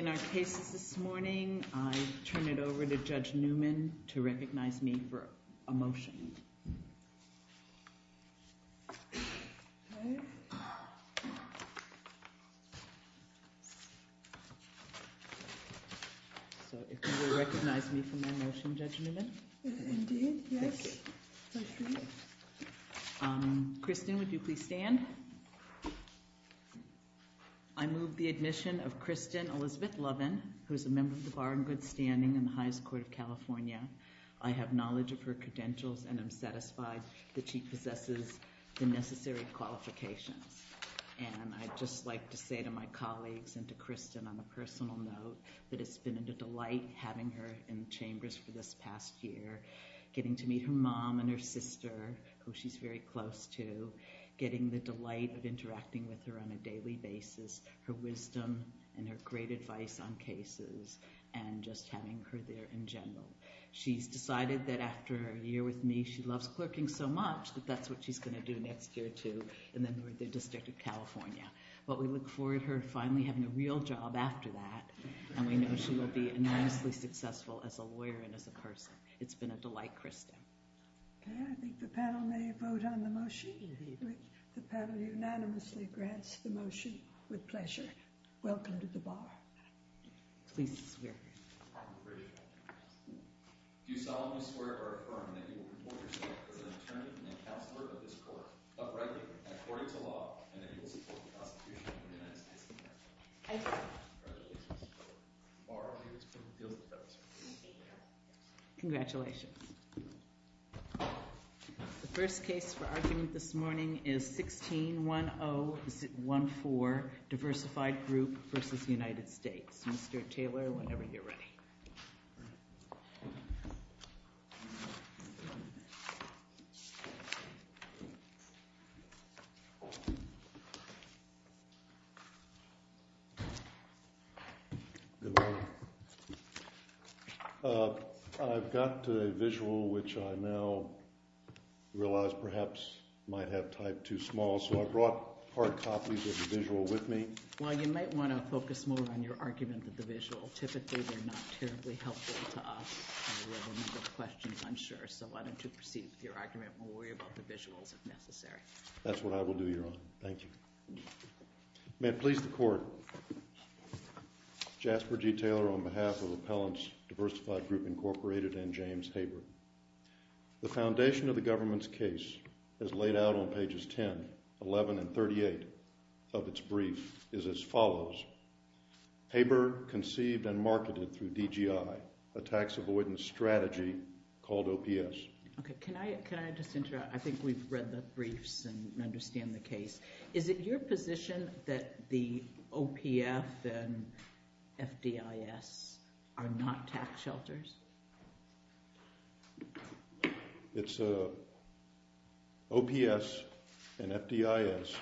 In our cases this morning, I turn it over to Judge Newman to recognize me for a motion. So if you will recognize me for my motion, Judge Newman. Indeed, yes. Thank you. Kristen, would you please stand? I move the admission of Kristen Elizabeth Lovin, who is a member of the Bar and Good Standing in the Highest Court of California. I have knowledge of her credentials and I'm satisfied that she possesses the necessary qualifications. And I'd just like to say to my colleagues and to Kristen on a personal note that it's been a delight having her in chambers for this past year, getting to meet her mom and her sister, who she's very close to, getting the delight of interacting with her on a daily basis, her wisdom and her great advice on cases, and just having her there in general. She's decided that after a year with me, she loves clerking so much that that's what she's going to do next year too, and then we're at the District of California. But we look forward to her finally having a real job after that, and we know she will be enormously successful as a lawyer and as a person. It's been a delight, Kristen. Okay, I think the panel may vote on the motion. The panel unanimously grants the motion with pleasure. Welcome to the Bar. Please be seated. Do you solemnly swear or affirm that you will report yourself as an attorney and a counselor of this court, uprightly, according to law, and that you will support the Constitution of the United States of America? I do. The Bar of Highest Court of California feels that that is her duty. Thank you. Congratulations. The first case for argument this morning is 16-1014, Diversified Group versus United States. I've got a visual which I now realize perhaps might have typed too small, so I brought hard copies of the visual with me. Well, you might want to focus more on your argument with the visual. Typically, they're not terribly helpful to us, and we'll have a number of questions, I'm sure. So why don't you proceed with your argument, and we'll worry about the visuals if necessary. That's what I will do, Your Honor. Thank you. May it please the court, Jasper G. Diversified Group, Incorporated, and James Haber, the foundation of the government's case, as laid out on pages 10, 11, and 38 of its brief, is as follows. Haber conceived and marketed through DGI, a tax avoidance strategy called OPS. Okay, can I just interrupt? I think we've read the briefs and understand the case. Is it your position that the OPF and FDIS are not tax shelters? It's a, OPS and FDIS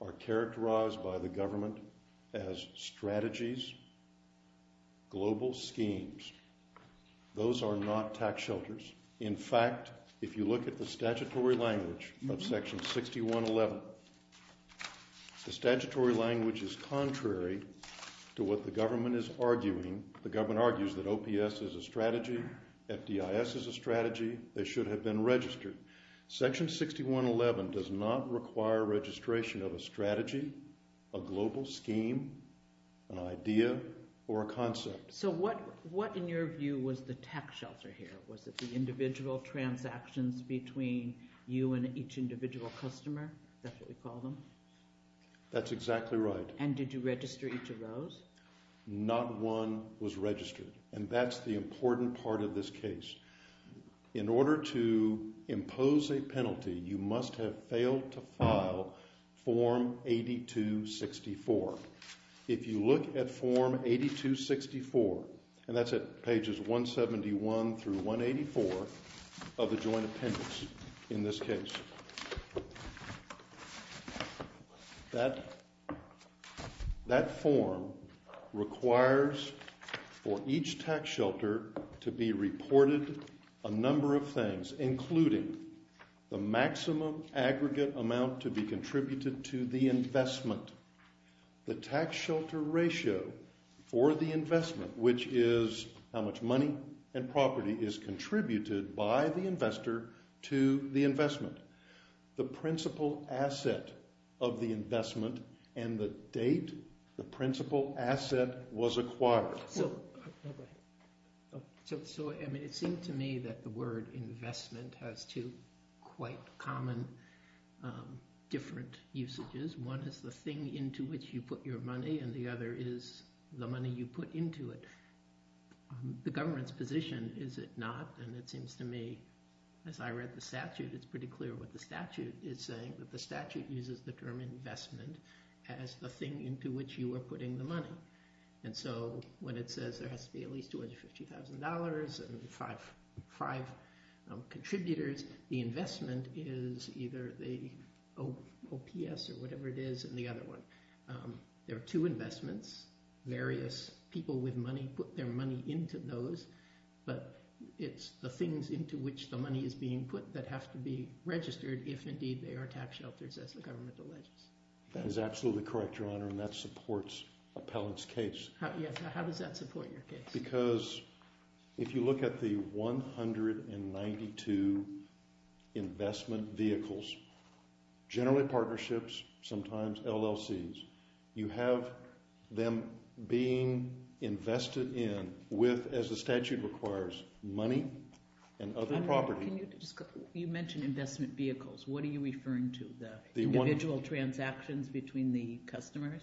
are characterized by the government as strategies, global schemes. Those are not tax shelters. In fact, if you look at the statutory language of section 6111, the statutory language is contrary to what the government is arguing. The government argues that OPS is a strategy, FDIS is a strategy, they should have been registered. Section 6111 does not require registration of a strategy, a global scheme, an idea, or a concept. So what, what in your view was the tax shelter here? Was it the individual transactions between you and each individual customer, is that what we call them? That's exactly right. And did you register each of those? Not one was registered, and that's the important part of this case. In order to impose a penalty, you must have failed to file form 8264. If you look at form 8264, and that's at pages 171 through 184 of the joint appendix in this case. That form requires for each tax shelter to be reported a number of things, including the maximum aggregate amount to be contributed to the investment. The tax shelter ratio for the investment, which is how much money and property is contributed by the investor to the investment. The principal asset of the investment, and the date the principal asset was acquired. So, so I mean it seemed to me that the word investment has two quite common different usages. One is the thing into which you put your money, and the other is the money you put into it. The government's position is it not, and it seems to me, as I read the statute, it's pretty clear what the statute is saying. That the statute uses the term investment as the thing into which you are putting the money. And so when it says there has to be at least $250,000 and five contributors, the investment is either the OPS or whatever it is, and the other one. There are two investments, various people with money put their money into those, but it's the things into which the money is being put that have to be registered, if indeed they are tax shelters as the government alleges. That is absolutely correct, Your Honor, and that supports Appellant's case. How does that support your case? Because if you look at the 192 investment vehicles, generally partnerships, sometimes LLCs, you have them being invested in with, as the statute requires, money and other property. I don't know, can you just, you mentioned investment vehicles. What are you referring to, the individual transactions between the customers?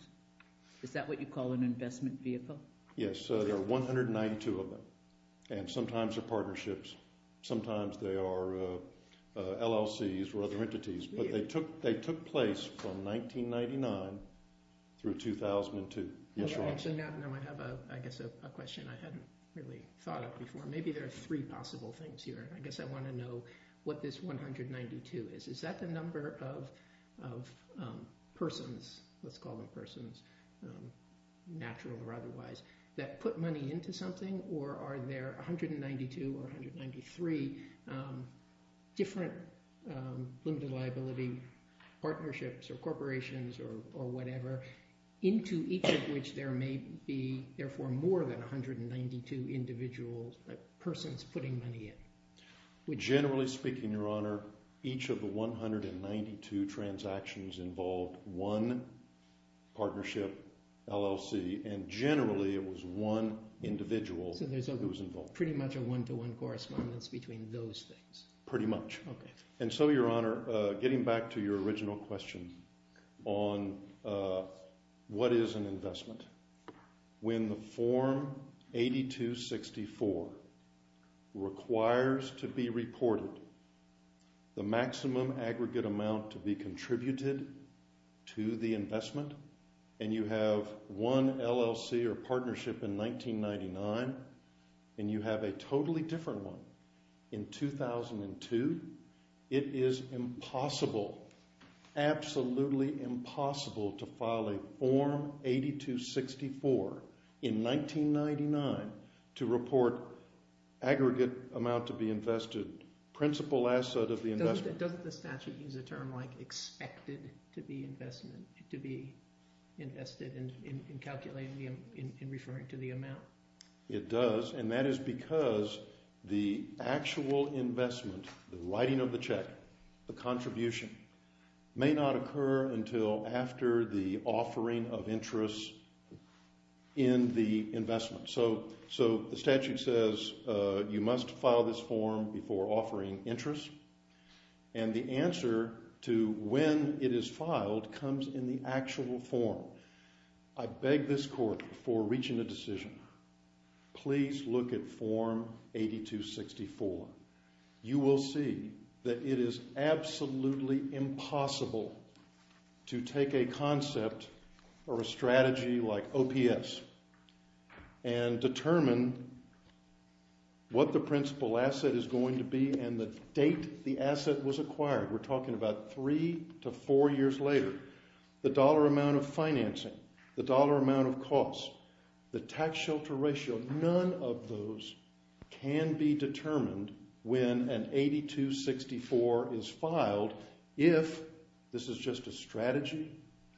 Is that what you call an investment vehicle? Yes, there are 192 of them, and sometimes they're partnerships, sometimes they are LLCs or other entities, but they took place from 1999 through 2002. Yes, Your Honor. Actually, now I have, I guess, a question I hadn't really thought of before. Maybe there are three possible things here. I guess I want to know what this 192 is. Is that the number of persons, let's call them persons, natural or otherwise, that put money into something? Or are there 192 or 193 different limited liability partnerships or corporations or whatever into each of which there may be, therefore, more than 192 individuals, persons putting money in? Generally speaking, Your Honor, each of the 192 transactions involved one partnership, LLC, and generally it was one individual that was involved. So there's pretty much a one-to-one correspondence between those things? Pretty much. Okay. And so, Your Honor, getting back to your original question on what is an investment, when the Form 8264 requires to be reported the maximum aggregate amount to be contributed to the investment, and you have one LLC or partnership in 1999, and you have a totally different one in 2002, it is impossible, absolutely impossible to file a Form 8264 in 1999 to report aggregate amount to be invested, principal asset of the investment. Doesn't the statute use a term like expected to be invested in calculating, in referring to the amount? It does, and that is because the actual investment, the writing of the check, the contribution, may not occur until after the offering of interest in the investment. So the statute says you must file this form before offering interest, and the answer to when it is filed comes in the actual form. I beg this Court, before reaching a decision, please look at Form 8264. You will see that it is absolutely impossible to take a concept or a strategy like OPS and determine what the principal asset is going to be and the date the asset was acquired. We're talking about three to four years later. The dollar amount of financing, the dollar amount of cost, the tax shelter ratio, none of those can be determined when an 8264 is filed if this is just a strategy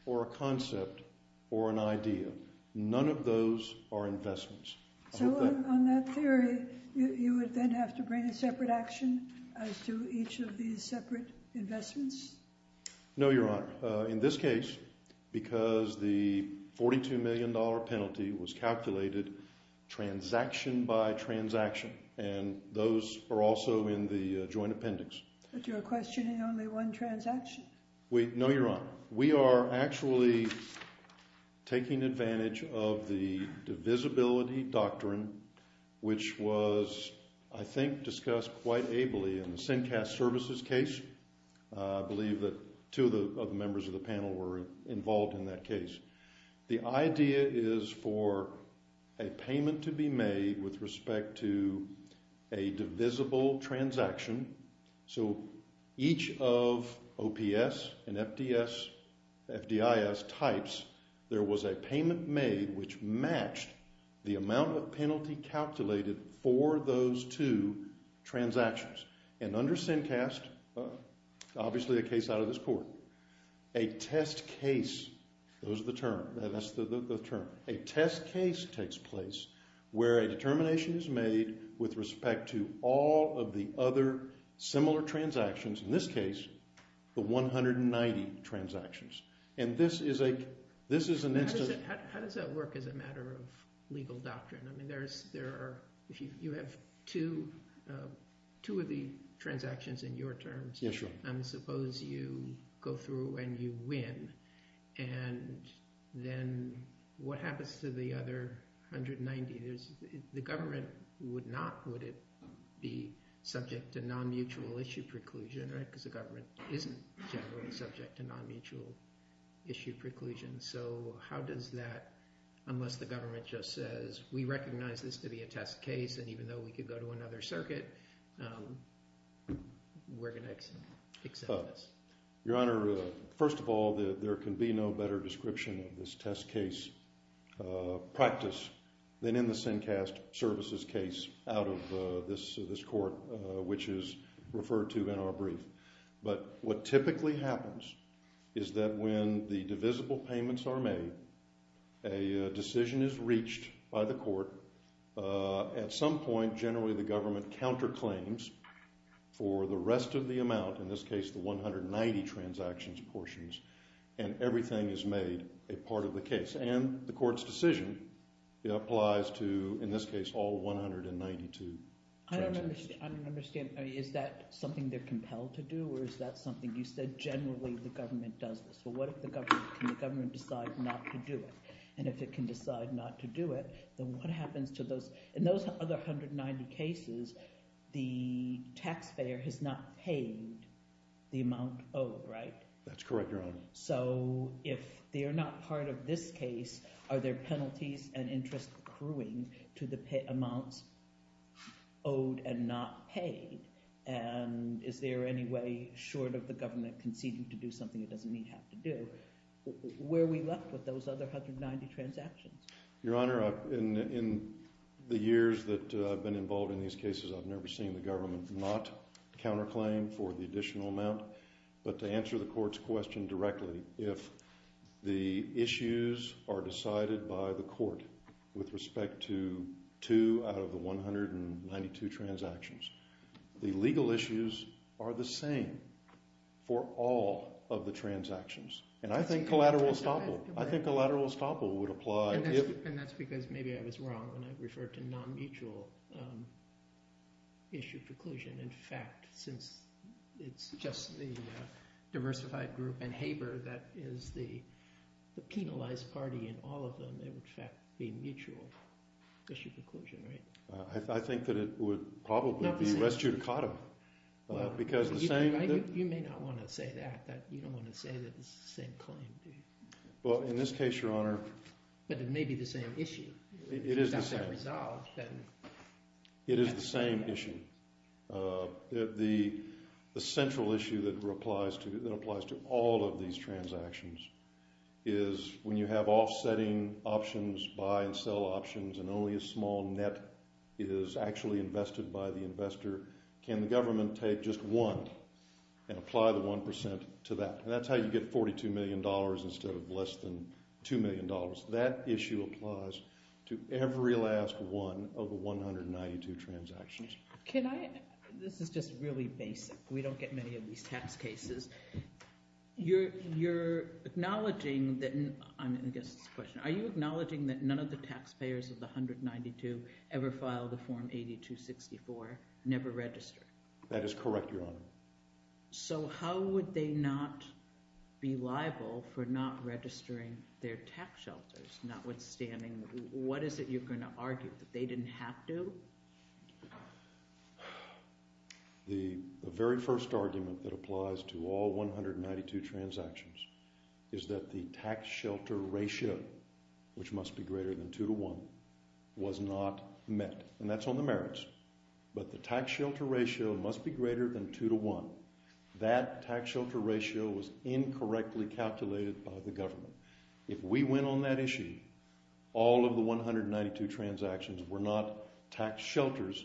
or a concept or an idea. None of those are investments. So on that theory, you would then have to bring a separate action as to each of these separate investments? No, Your Honor. In this case, because the $42 million penalty was calculated transaction by transaction, and those are also in the joint appendix. But you're questioning only one transaction. Wait, no, Your Honor. We are actually taking advantage of the divisibility doctrine, which was, I think, discussed quite ably in the CINCAS services case. I believe that two of the members of the panel were involved in that case. The idea is for a payment to be made with respect to a divisible transaction. So each of OPS and FDIS types, there was a payment made which matched the amount of penalty calculated for those two transactions. And under CINCAS, obviously a case out of this court, a test case, those are the term, that's the term, a test case takes place where a determination is made with respect to all of the other similar transactions, in this case, the 190 transactions. And this is an instance... How does that work as a matter of legal doctrine? There are, if you have two of the transactions in your terms, suppose you go through and you win, and then what happens to the other 190? The government would not, would it be subject to non-mutual issue preclusion, because the government isn't generally subject to non-mutual issue preclusion. So how does that, unless the government just says, we recognize this to be a test case, and even though we could go to another circuit, we're going to accept this. Your Honor, first of all, there can be no better description of this test case practice than in the CINCAS services case out of this court, which is referred to in our brief. But what typically happens is that when the divisible payments are made, a decision is reached by the court. At some point, generally, the government counterclaims for the rest of the amount, in this case, the 190 transactions portions, and everything is made a part of the case. And the court's decision applies to, in this case, all 192 transactions. I don't understand. Is that something they're compelled to do, or is that something you said, generally, the government does this? But what if the government, can the government decide not to do it? And if it can decide not to do it, then what happens to those, in those other 190 cases, the taxpayer has not paid the amount owed, right? That's correct, Your Honor. So if they are not part of this case, are there penalties and interest accruing to the amounts owed and not paid? And is there any way, short of the government conceding to do something it doesn't need have to do, where we left with those other 190 transactions? Your Honor, in the years that I've been involved in these cases, I've never seen the government not counterclaim for the additional amount. But to answer the court's question directly, if the issues are decided by the court with respect to two out of the 192 transactions, the legal issues are the same for all of the transactions. And I think collateral estoppel, I think collateral estoppel would apply. And that's because maybe I was wrong when I referred to non-mutual issue preclusion. In fact, since it's just the diversified group and Haber, that is the penalized party in all of them, they would in fact be mutual issue preclusion, right? I think that it would probably be res judicata. Because the same thing... You may not want to say that. You don't want to say that it's the same claim, do you? Well, in this case, Your Honor... But it may be the same issue. It is the same. It is the same issue. The central issue that applies to all of these transactions is when you have offsetting options, buy and sell options, and only a small net is actually invested by the investor, can the government take just one and apply the 1% to that? And that's how you get $42 million instead of less than $2 million. That issue applies to every last one of the 192 transactions. Can I... This is just really basic. We don't get many of these tax cases. You're acknowledging that... I guess it's a question. Are you acknowledging that none of the taxpayers of the 192 ever filed a Form 8264, never registered? That is correct, Your Honor. So how would they not be liable for not registering their tax shelters, notwithstanding... What is it you're going to argue? That they didn't have to? Well, the very first argument that applies to all 192 transactions is that the tax shelter ratio, which must be greater than 2 to 1, was not met. And that's on the merits. But the tax shelter ratio must be greater than 2 to 1. That tax shelter ratio was incorrectly calculated by the government. If we went on that issue, all of the 192 transactions were not tax shelters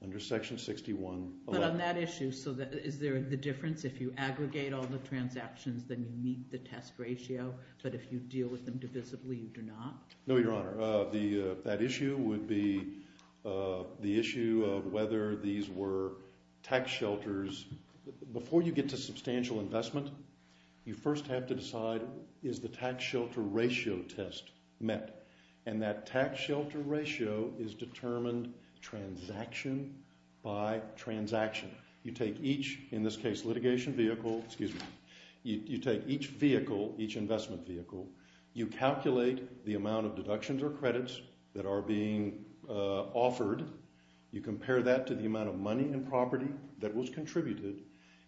under Section 611. But on that issue, is there the difference if you aggregate all the transactions, then you meet the test ratio, but if you deal with them divisibly, you do not? No, Your Honor. That issue would be the issue of whether these were tax shelters... Before you get to substantial investment, you first have to decide, is the tax shelter ratio test met? And that tax shelter ratio is determined transaction by transaction. You take each, in this case, litigation vehicle... Excuse me. You take each vehicle, each investment vehicle. You calculate the amount of deductions or credits that are being offered. You compare that to the amount of money and property that was contributed.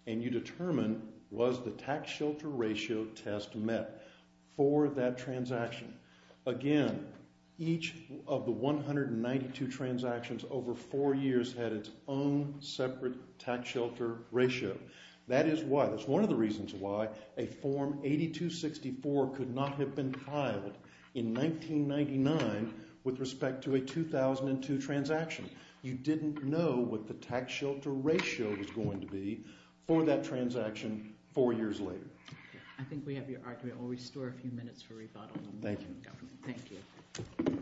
And you determine, was the tax shelter ratio test met for that transaction? Again, each of the 192 transactions over four years had its own separate tax shelter ratio. That is why. That's one of the reasons why a Form 8264 could not have been filed in 1999 with respect to a 2002 transaction. You didn't know what the tax shelter ratio was going to be for that transaction four years later. I think we have your argument. I'll restore a few minutes for rebuttal. Thank you.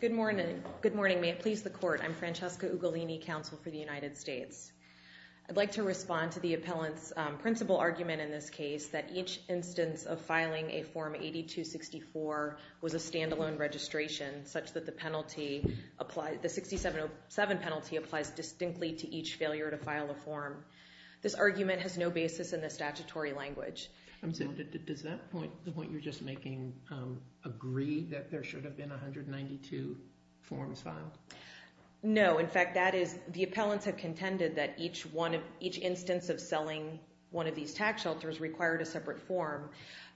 Good morning. Good morning. May it please the court. I'm Francesca Ugolini, counsel for the United States. I'd like to respond to the appellant's principal argument in this case that each instance of filing a Form 8264 was a standalone registration such that the penalty applied... The 6707 penalty applies distinctly to each failure to file a form. This argument has no basis in the statutory language. Does that point, the point you're just making, agree that there should have been 192 forms filed? No. In fact, that is... The appellants have contended that each instance of selling one of these tax shelters required a separate form.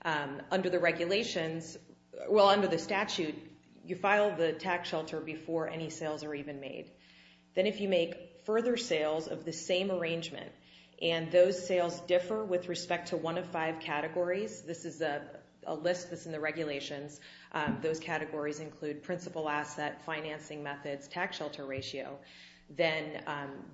Under the regulations... Well, under the statute, you file the tax shelter before any sales are even made. Then if you make further sales of the same arrangement and those sales differ with respect to one of five categories... This is a list that's in the regulations. Those categories include principal asset, financing methods, tax shelter ratio. Then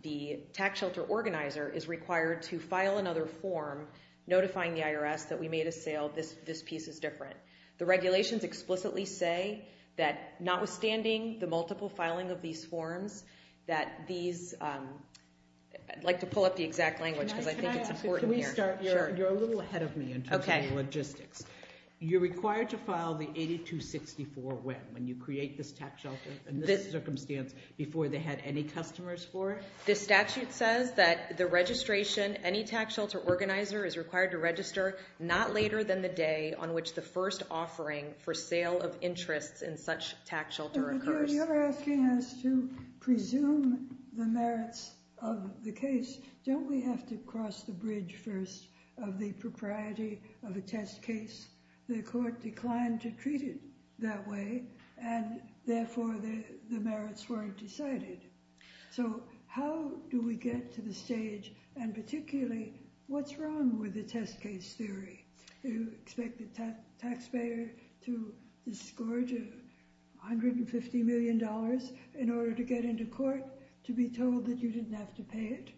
the tax shelter organizer is required to file another form notifying the IRS that we made a sale. This piece is different. The regulations explicitly say that notwithstanding the multiple filing of these forms, that these... I'd like to pull up the exact language because I think it's important here. Can we start? You're a little ahead of me in terms of logistics. You're required to file the 8264 when? When you create this tax shelter in this circumstance before they had any customers for it? The statute says that the registration, any tax shelter organizer is required to register not later than the day on which the first offering for sale of interests in such tax shelter occurs. You're asking us to presume the merits of the case. Don't we have to cross the bridge first of the propriety of a test case? The court declined to treat it that way and therefore the merits weren't decided. So how do we get to the stage? And particularly, what's wrong with the test case theory? You expect the taxpayer to disgorge $150 million in order to get into court to be told that you didn't have to pay it?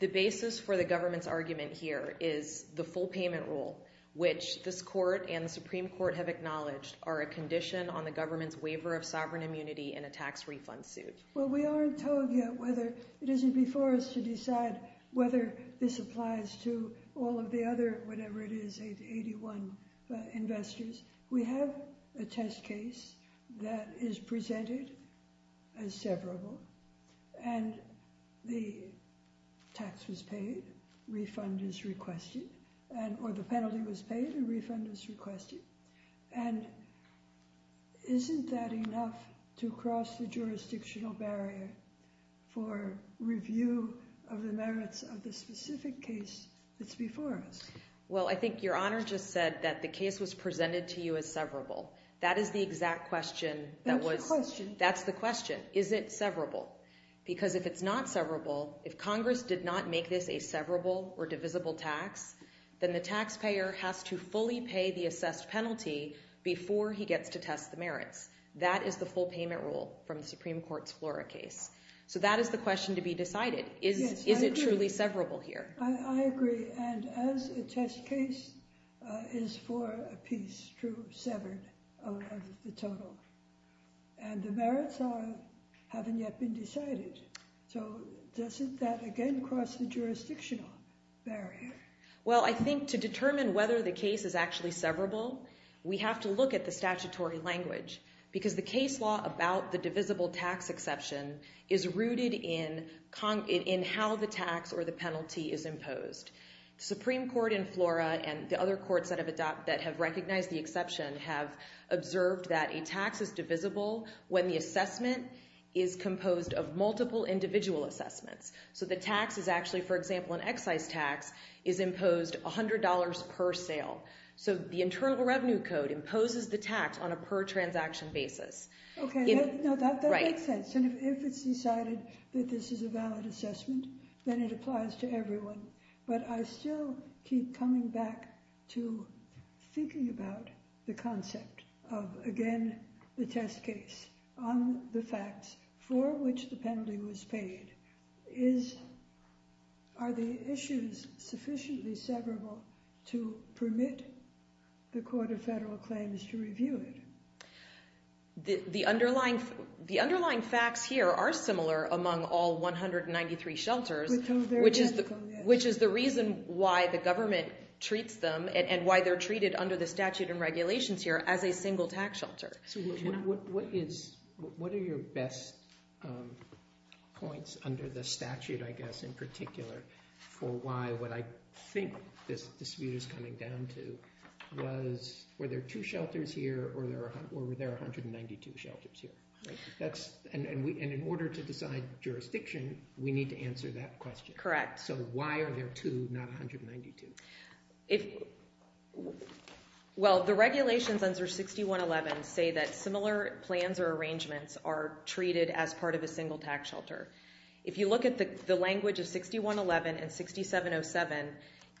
The basis for the government's argument here is the full payment rule, which this court and the Supreme Court have acknowledged are a condition on the government's waiver of sovereign immunity in a tax refund suit. Well, we aren't told yet whether it isn't before us to decide whether this applies to all of the other, whatever it is, 81 investors. We have a test case that is presented as severable and the tax was paid, refund is requested, or the penalty was paid, a refund is requested. And isn't that enough to cross the jurisdictional barrier for review of the merits of the specific case that's before us? Well, I think Your Honor just said that the case was presented to you as severable. That is the exact question. That's the question. That's the question. Is it severable? Because if it's not severable, if Congress did not make this a severable or divisible tax, before he gets to test the merits. That is the full payment rule from the Supreme Court's Flora case. So that is the question to be decided. Is it truly severable here? I agree. And as a test case is for a piece true severed out of the total. And the merits haven't yet been decided. So doesn't that again cross the jurisdictional barrier? Well, I think to determine whether the case is actually severable, we have to look at the statutory language. Because the case law about the divisible tax exception is rooted in how the tax or the penalty is imposed. The Supreme Court in Flora and the other courts that have recognized the exception have observed that a tax is divisible when the assessment is composed of multiple individual assessments. So the tax is actually, for example, an excise tax, is imposed $100 per sale. So the Internal Revenue Code imposes the tax on a per transaction basis. OK. No, that makes sense. And if it's decided that this is a valid assessment, then it applies to everyone. But I still keep coming back to thinking about the concept of, again, the test case on the facts for which the penalty was paid. Is, are the issues sufficiently severable to permit the Court of Federal Claims to review it? The underlying facts here are similar among all 193 shelters, which is the reason why the government treats them and why they're treated under the statute and regulations here as a single tax shelter. What are your best points under the statute, I guess, in particular, for why what I think this dispute is coming down to was, were there two shelters here or were there 192 shelters here? And in order to decide jurisdiction, we need to answer that question. Correct. So why are there two, not 192? If, well, the regulations under 6111 say that similar plans or arrangements are treated as part of a single tax shelter. If you look at the language of 6111 and 6707,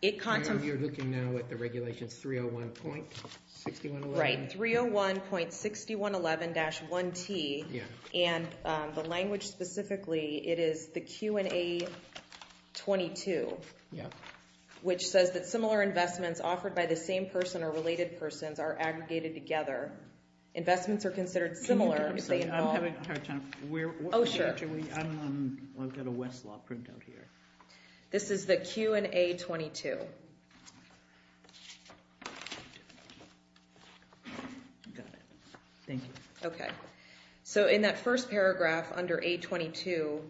it cont— And you're looking now at the regulations 301.6111? Right, 301.6111-1T. And the language specifically, it is the Q&A 22, Yeah. which says that similar investments offered by the same person or related persons are aggregated together. Investments are considered similar if they involve— I'm having a hard time, where— Oh, sure. I'm on, I've got a Westlaw printout here. This is the Q&A 22. Got it. Thank you. Okay. So in that first paragraph under A22,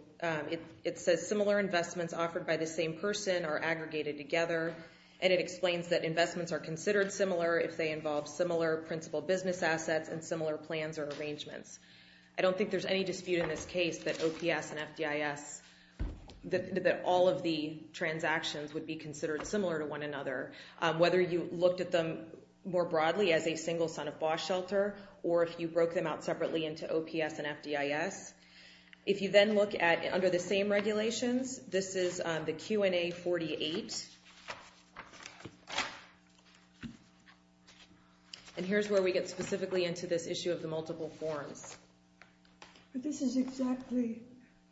it says similar investments offered by the same person are aggregated together, and it explains that investments are considered similar if they involve similar principal business assets and similar plans or arrangements. I don't think there's any dispute in this case that OPS and FDIS, that all of the transactions would be considered similar to one another, whether you looked at them more broadly as a single son-of-boss shelter, or if you broke them out separately into OPS and FDIS. If you then look at, under the same regulations, this is the Q&A 48. And here's where we get specifically into this issue of the multiple forms. But this is exactly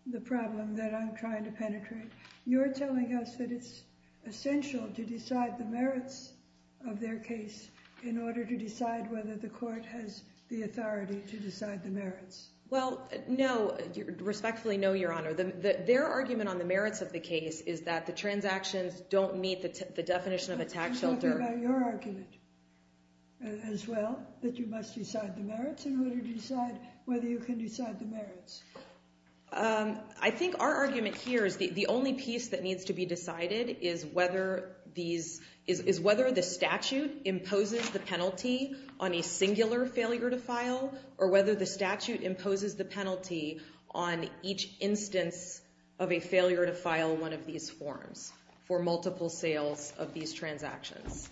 the problem that I'm trying to penetrate. You're telling us that it's essential to decide the merits of their case in order to decide whether the court has the authority to decide the merits. Well, no. Respectfully, no, Your Honor. Their argument on the merits of the case is that the transactions don't meet the definition of a tax shelter. I'm talking about your argument as well, that you must decide the merits in order to decide whether you can decide the merits. I think our argument here is the only piece that needs to be decided is whether the statute imposes the penalty on a singular failure to file, or whether the statute imposes the penalty on each instance of a failure to file one of these forms for multiple sales of these transactions.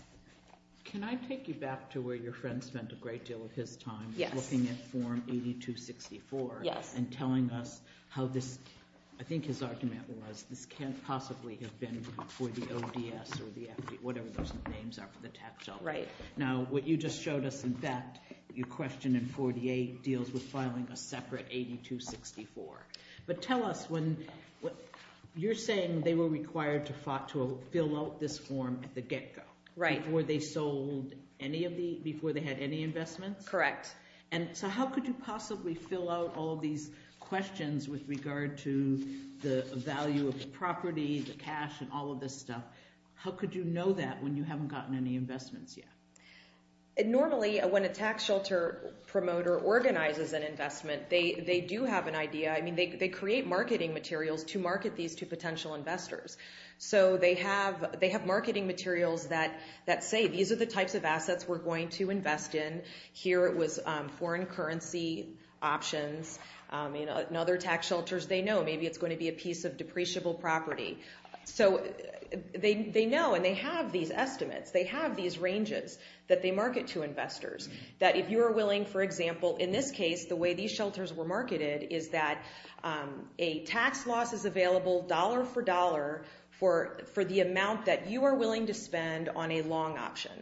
Can I take you back to where your friend spent a great deal of his time? Yes. Looking at Form 8264 and telling us how this, I think his argument was, this can't possibly have been for the ODS or the FD, whatever those names are for the tax shelter. Right. Now, what you just showed us, in fact, your question in 48 deals with filing a separate 8264. But tell us, you're saying they were required to fill out this form at the get-go. Right. Were they sold before they had any investments? Correct. And so how could you possibly fill out all these questions with regard to the value of the property, the cash, and all of this stuff? How could you know that when you haven't gotten any investments yet? Normally, when a tax shelter promoter organizes an investment, they do have an idea. I mean, they create marketing materials to market these to potential investors. So they have marketing materials that say, these are the types of assets we're going to invest in. Here it was foreign currency options. In other tax shelters, they know maybe it's going to be a piece of depreciable property. So they know, and they have these estimates. They have these ranges that they market to investors. That if you are willing, for example, in this case, the way these shelters were marketed is that a tax loss is available dollar for dollar for the amount that you are willing to spend on a long option.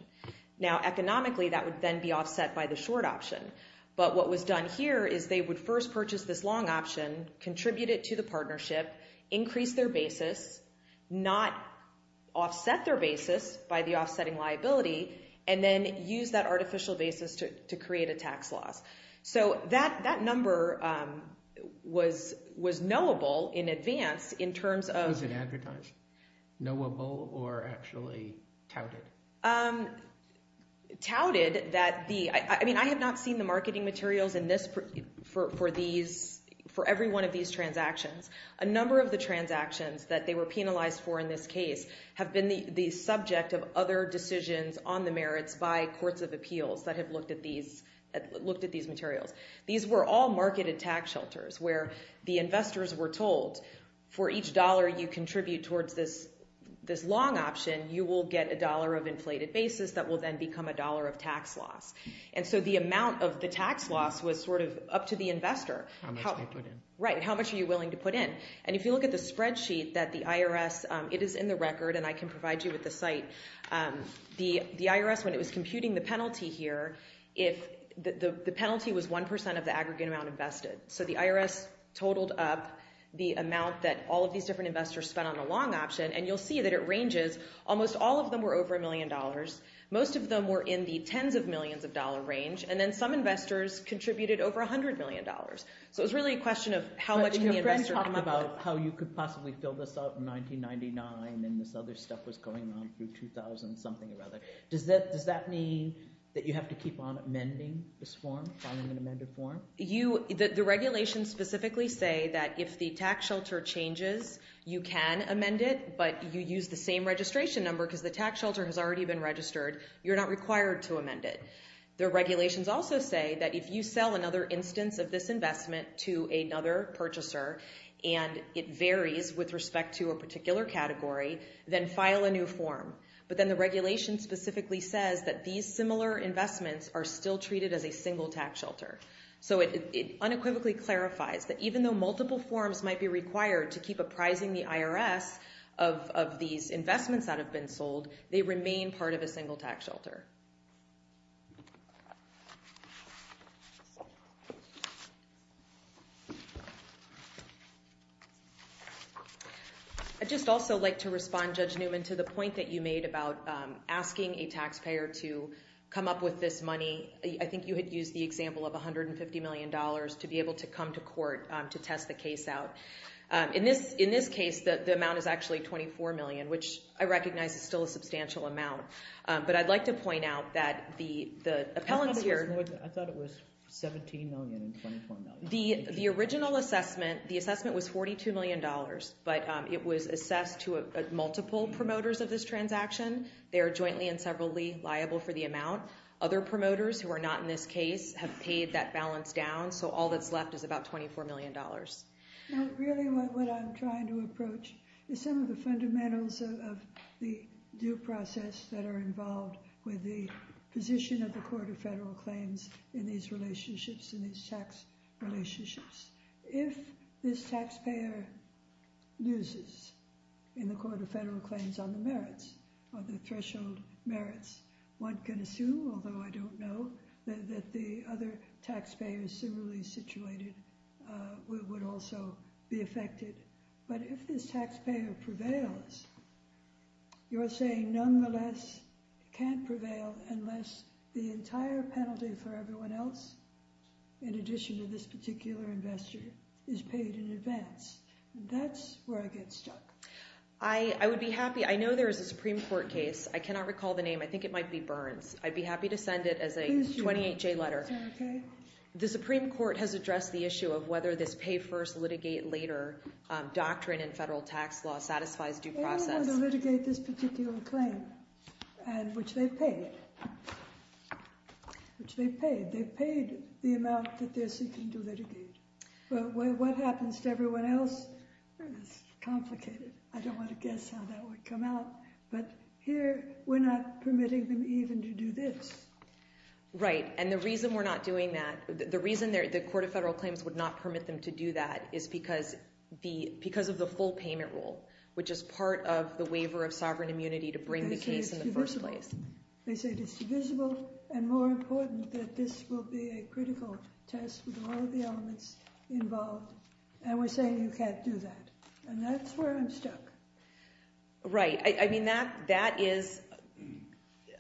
Now, economically, that would then be offset by the short option. But what was done here is they would first purchase this long option, contribute it to the partnership, increase their basis, not offset their basis by the offsetting liability, and then use that artificial basis to create a tax loss. So that number was knowable in advance in terms of... Was it advertised? Knowable or actually touted? Touted that the... I mean, I have not seen the marketing materials for every one of these transactions. A number of the transactions that they were penalized for in this case have been the subject of other decisions on the merits by courts of appeals that have looked at these materials. These were all marketed tax shelters where the investors were told, for each dollar you contribute towards this long option, you will get a dollar of inflated basis that will then become a dollar of tax loss. And so the amount of the tax loss was sort of up to the investor. How much they put in. And if you look at the spreadsheet that the IRS... It is in the record, and I can provide you with the site. The IRS, when it was computing the penalty here, if the penalty was 1% of the aggregate amount invested. So the IRS totaled up the amount that all of these different investors spent on a long option. And you'll see that it ranges. Almost all of them were over a million dollars. Most of them were in the tens of millions of dollar range. And then some investors contributed over a hundred million dollars. So it's really a question of how much can the investor come up with. How you could possibly fill this out in 1999, and this other stuff was going on through 2000 something or other. Does that mean that you have to keep on amending this form, filing an amended form? The regulations specifically say that if the tax shelter changes, you can amend it. But you use the same registration number because the tax shelter has already been registered. You're not required to amend it. The regulations also say that if you sell another instance of this investment to another purchaser and it varies with respect to a particular category, then file a new form. But then the regulation specifically says that these similar investments are still treated as a single tax shelter. So it unequivocally clarifies that even though multiple forms might be required to keep apprising the IRS of these investments that have been sold, they remain part of a single tax shelter. I'd just also like to respond, Judge Newman, to the point that you made about asking a taxpayer to come up with this money. I think you had used the example of $150 million to be able to come to court to test the case out. In this case, the amount is actually $24 million, which I recognize is still a substantial amount. But I'd like to point out that the appellants here- I thought it was $17 million and $24 million. The original assessment, the assessment was $42 million. But it was assessed to multiple promoters of this transaction. They are jointly and severally liable for the amount. Other promoters who are not in this case have paid that balance down. So all that's left is about $24 million. No, really what I'm trying to approach is some of the fundamentals of the due process that are involved with the position of the Court of Federal Claims in these relationships, in these tax relationships. If this taxpayer loses in the Court of Federal Claims on the merits, on the threshold merits, one can assume, although I don't know, that the other taxpayers similarly situated would also be affected. But if this taxpayer prevails, you're saying nonetheless it can't prevail unless the entire penalty for everyone else, in addition to this particular investor, is paid in advance. That's where I get stuck. I would be happy- I know there is a Supreme Court case. I cannot recall the name. I think it might be Burns. I'd be happy to send it as a 28-J letter. The Supreme Court has addressed the issue of whether this pay-first, litigate-later doctrine in federal tax law satisfies due process. They're going to litigate this particular claim, which they've paid. Which they've paid. They've paid the amount that they're seeking to litigate. What happens to everyone else is complicated. I don't want to guess how that would come out. But here, we're not permitting them even to do this. Right, and the reason we're not doing that- the reason the Court of Federal Claims would not permit them to do that is because of the full payment rule, which is part of the waiver of sovereign immunity to bring the case in the first place. They say it's divisible, and more important, that this will be a critical test with all of the elements involved. And we're saying you can't do that. And that's where I'm stuck. Right, I mean, that is-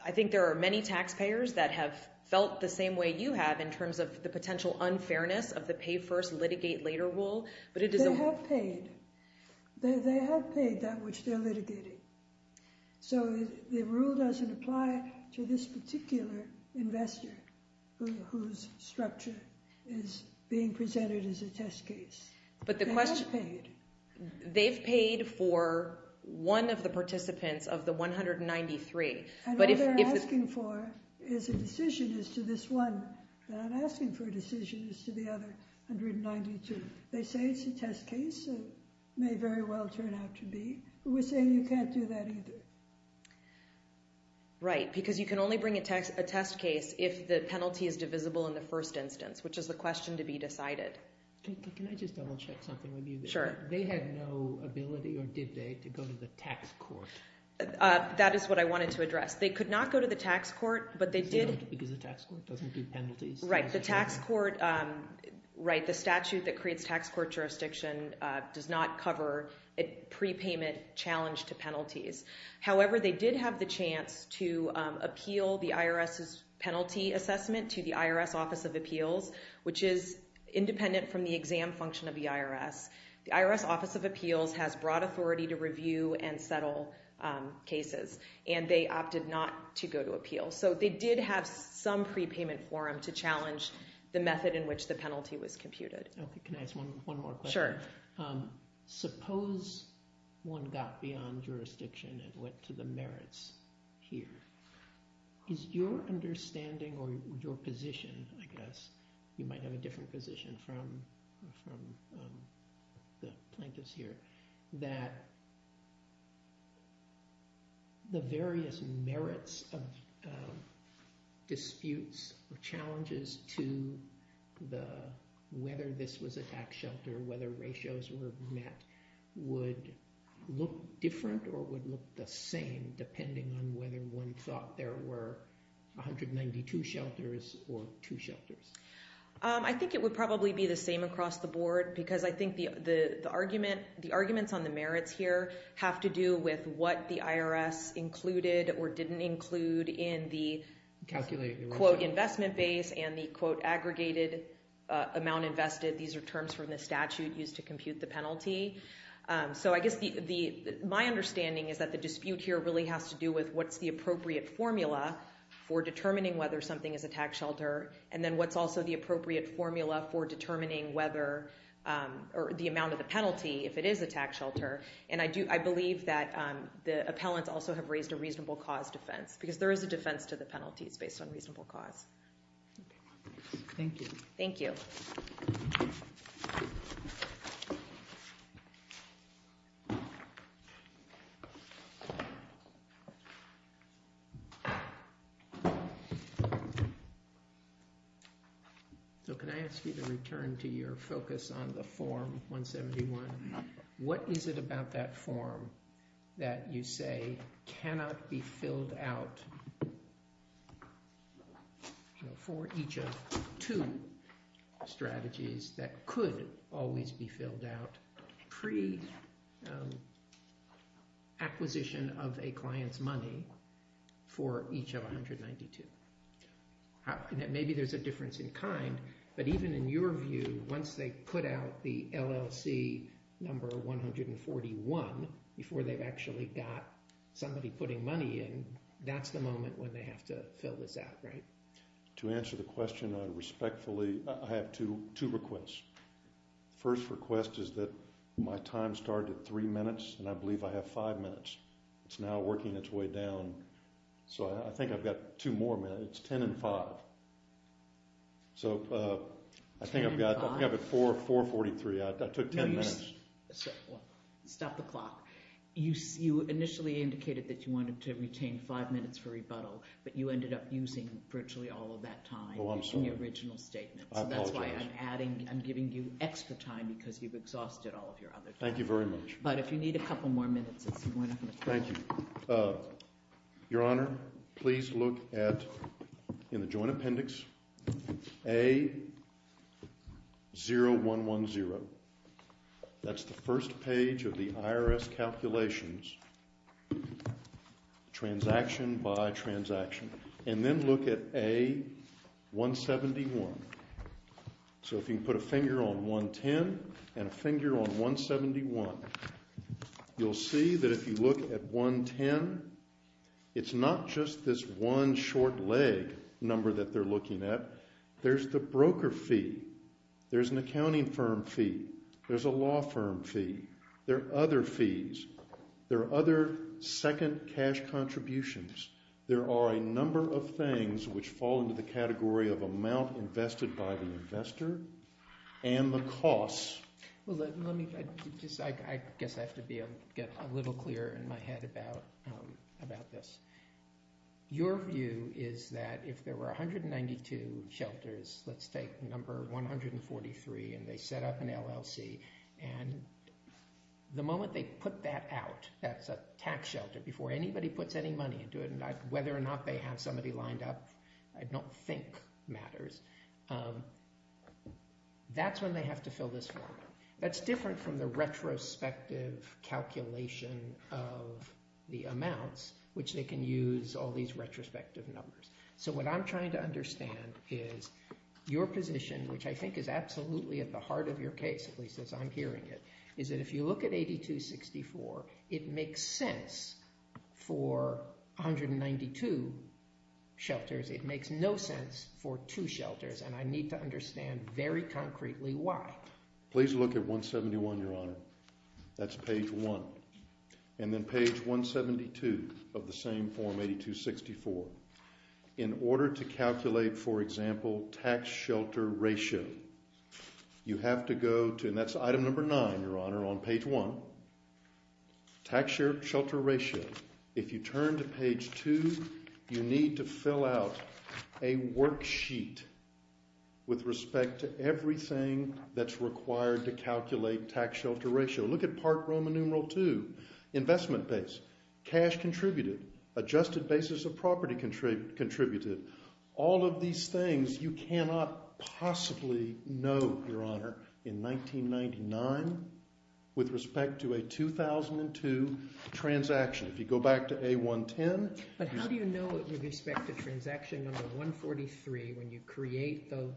I think there are many taxpayers that have felt the same way you have in terms of the potential unfairness of the pay first, litigate later rule. But it is- They have paid. They have paid that which they're litigating. So the rule doesn't apply to this particular investor whose structure is being presented as a test case. But the question- They have paid. They've paid for one of the participants of the 193. And what they're asking for is a decision as to this one that I'm asking for a decision as to the other 192. They say it's a test case. It may very well turn out to be. We're saying you can't do that either. Right, because you can only bring a test case if the penalty is divisible in the first instance, which is the question to be decided. Can I just double check something with you? Sure. They had no ability, or did they, to go to the tax court? That is what I wanted to address. They could not go to the tax court, but they did- Because the tax court doesn't do penalties. Right, the statute that creates tax court jurisdiction does not cover a prepayment challenge to penalties. However, they did have the chance to appeal the IRS's penalty assessment to the IRS Office of Appeals, which is independent from the exam function of the IRS. The IRS Office of Appeals has broad authority to review and settle cases. And they opted not to go to appeal. So they did have some prepayment forum to challenge the method in which the penalty was computed. Okay, can I ask one more question? Sure. Suppose one got beyond jurisdiction and went to the merits here. Is your understanding, or your position, I guess, you might have a different position from the plaintiffs here, that the various merits of disputes or challenges to whether this was a tax shelter, whether ratios were met, would look different or would look the same, depending on whether one thought there were 192 shelters or two shelters? I think it would probably be the same across the board, because I think the arguments on the merits here have to do with what the IRS included or didn't include in the, quote, investment base, and the, quote, aggregated amount invested. These are terms from the statute used to compute the penalty. So I guess my understanding is that the dispute here really has to do with what's the appropriate formula for determining whether something is a tax shelter, and then what's also the appropriate formula for determining whether, or the amount of the penalty, if it is a tax shelter. And I believe that the appellants also have raised a reasonable cause defense, because there is a defense to the penalties based on reasonable cause. Thank you. Thank you. So can I ask you to return to your focus on the form 171? What is it about that form that you say cannot be filled out for each of two strategies that could always be filled out pre-acquisition of a client's money for each of 192? Maybe there's a difference in kind, but even in your view, once they put out the LLC number 141 before they've actually got somebody putting money in, that's the moment when they have to fill this out, right? To answer the question respectfully, I have two requests. The first request is that my time started at three minutes, and I believe I have five minutes. It's now working its way down. So I think I've got two more minutes. It's 10 and 5. So I think I've got 4.43. I took 10 minutes. Stop the clock. You initially indicated that you wanted to retain five minutes for rebuttal, but you ended up using virtually all of that time using the original statement. So that's why I'm giving you extra time because you've exhausted all of your other time. Thank you very much. But if you need a couple more minutes, it's more than enough. Thank you. Your Honor, please look at, in the joint appendix, A0110. That's the first page of the IRS calculations. Transaction by transaction. And then look at A171. So if you can put a finger on 110 and a finger on 171, you'll see that if you look at 110, it's not just this one short leg number that they're looking at. There's the broker fee. There's an accounting firm fee. There's a law firm fee. There are other fees. There are other second cash contributions. There are a number of things which fall into the category of amount invested by the investor and the costs. Well, let me just, I guess I have to be able to get a little clearer in my head about this. Your view is that if there were 192 shelters, let's take number 143, and they set up an LLC. And the moment they put that out, that's a tax shelter, before anybody puts any money into it, whether or not they have somebody lined up, I don't think matters. That's when they have to fill this form. That's different from the retrospective calculation of the amounts, which they can use all these retrospective numbers. So what I'm trying to understand is your position, which I think is absolutely at the heart of your case, at least as I'm hearing it, is that if you look at 8264, it makes sense for 192 shelters. It makes no sense for two shelters. And I need to understand very concretely why. Please look at 171, Your Honor. That's page one. And then page 172 of the same form, 8264. In order to calculate, for example, tax shelter ratio, you have to go to, and that's item number nine, Your Honor, on page one. Tax shelter ratio. If you turn to page two, you need to fill out a worksheet with respect to everything that's required to calculate tax shelter ratio. Look at part Roman numeral two, investment base, cash contributed, adjusted basis of property contributed. All of these things you cannot possibly know, Your Honor, in 1999 with respect to a 2002 transaction. If you go back to A110. But how do you know it with respect to transaction number 143 when you create the,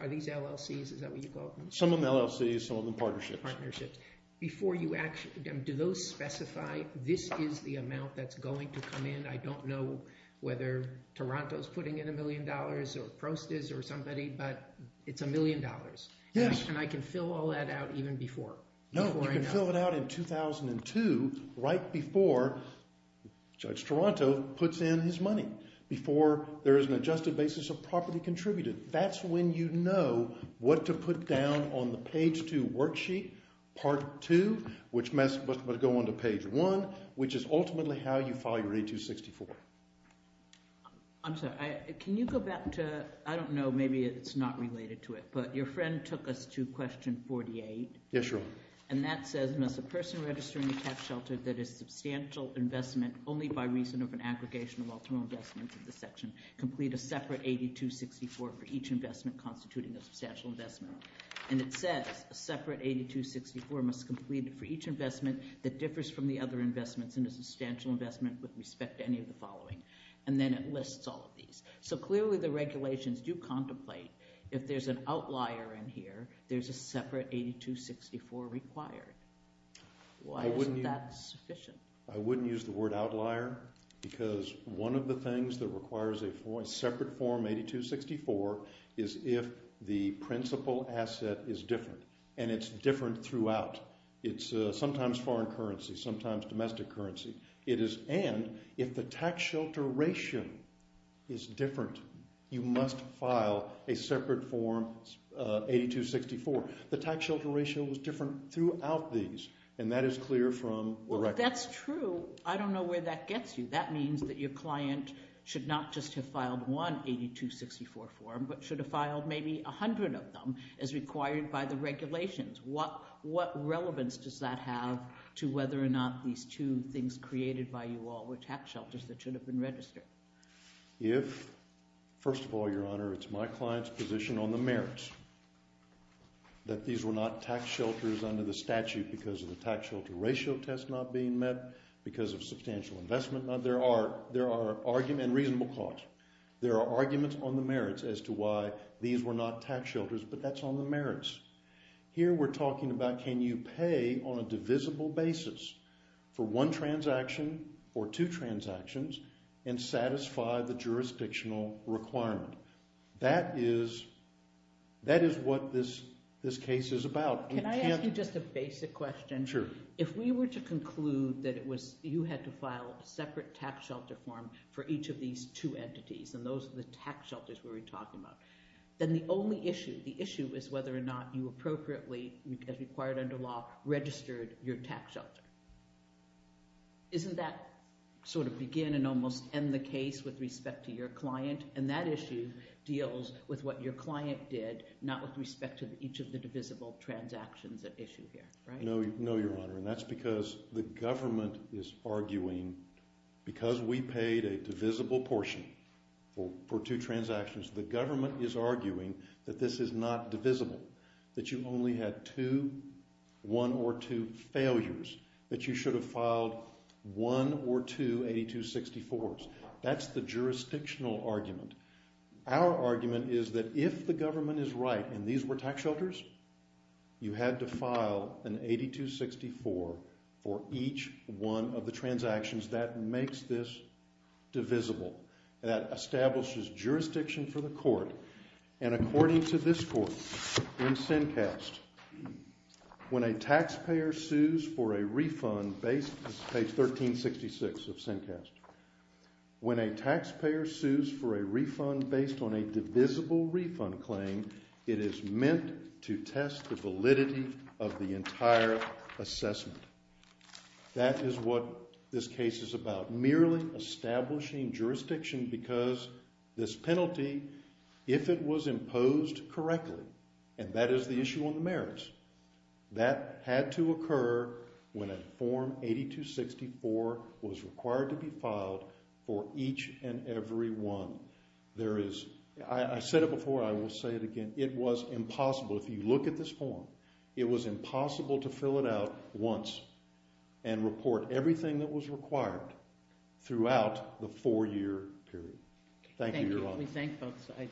are these LLCs? Is that what you call them? Some of them LLCs, some of them partnerships. Partnerships. Before you actually, do those specify this is the amount that's going to come in? I don't know whether Toronto's putting in a million dollars or Prost is or somebody, but it's a million dollars. Yes. And I can fill all that out even before. No, you can fill it out in 2002 right before Judge Toronto puts in his money. Before there is an adjusted basis of property contributed. That's when you know what to put down on the page two worksheet, part two, which must go on to page one, which is ultimately how you file your 8264. I'm sorry. Can you go back to, I don't know, maybe it's not related to it, but your friend took us to question 48. Yes, Your Honor. And that says, must a person registering a tax shelter that is substantial investment only by reason of an aggregation of all total investments in the section complete a separate 8264 for each investment constituting a substantial investment? And it says a separate 8264 must complete for each investment that differs from the other investments in a substantial investment with respect to any of the following. And then it lists all of these. So clearly the regulations do contemplate if there's an outlier in here, there's a separate 8264 required. Why isn't that sufficient? I wouldn't use the word outlier because one of the things that requires a separate form 8264 is if the principal asset is different and it's different throughout. It's sometimes foreign currency, sometimes domestic currency. It is. And if the tax shelter ratio is different, you must file a separate form 8264. The tax shelter ratio was different throughout these. And that is clear from the record. That's true. I don't know where that gets you. That means that your client should not just have filed one 8264 form, but should have filed maybe 100 of them as required by the regulations. What relevance does that have to whether or not these two things created by you all were tax shelters that should have been registered? If, first of all, Your Honor, it's my client's position on the merits that these were not tax shelters under the statute because of the tax shelter ratio test not being met, because of substantial investment. There are arguments and reasonable cause. There are arguments on the merits as to why these were not tax shelters, but that's on the merits. Here we're talking about can you pay on a divisible basis for one transaction or two transactions and satisfy the jurisdictional requirement? That is what this case is about. Can I ask you just a basic question? Sure. If we were to conclude that it was you had to file a separate tax shelter form for each of these two entities and those are the tax shelters we were talking about, then the only issue, the issue is whether or not you appropriately, as required under law, registered your tax shelter. Isn't that sort of begin and almost end the case with respect to your client? And that issue deals with what your client did, not with respect to each of the divisible transactions at issue here, right? No, Your Honor, and that's because the government is arguing because we paid a divisible portion for two transactions, the government is arguing that this is not divisible, that you only had two, one or two failures, that you should have filed one or two 8264s. That's the jurisdictional argument. Our argument is that if the government is right and these were tax shelters, you had to file an 8264 for each one of the transactions that makes this divisible, that establishes jurisdiction for the court and according to this court in Sincast, when a taxpayer sues for a refund based on page 1366 of Sincast, when a taxpayer sues for a refund based on a divisible refund claim, it is meant to test the validity of the entire assessment. That is what this case is about, merely establishing jurisdiction because this penalty if it was imposed correctly and that is the issue on the merits, that had to occur when a form 8264 was required to be filed for each and every one. There is, I said it before, I will say it again, it was impossible. If you look at this form, it was impossible to fill it out once and report everything that was required throughout the four-year period. Thank you, Your Honor. We thank both sides.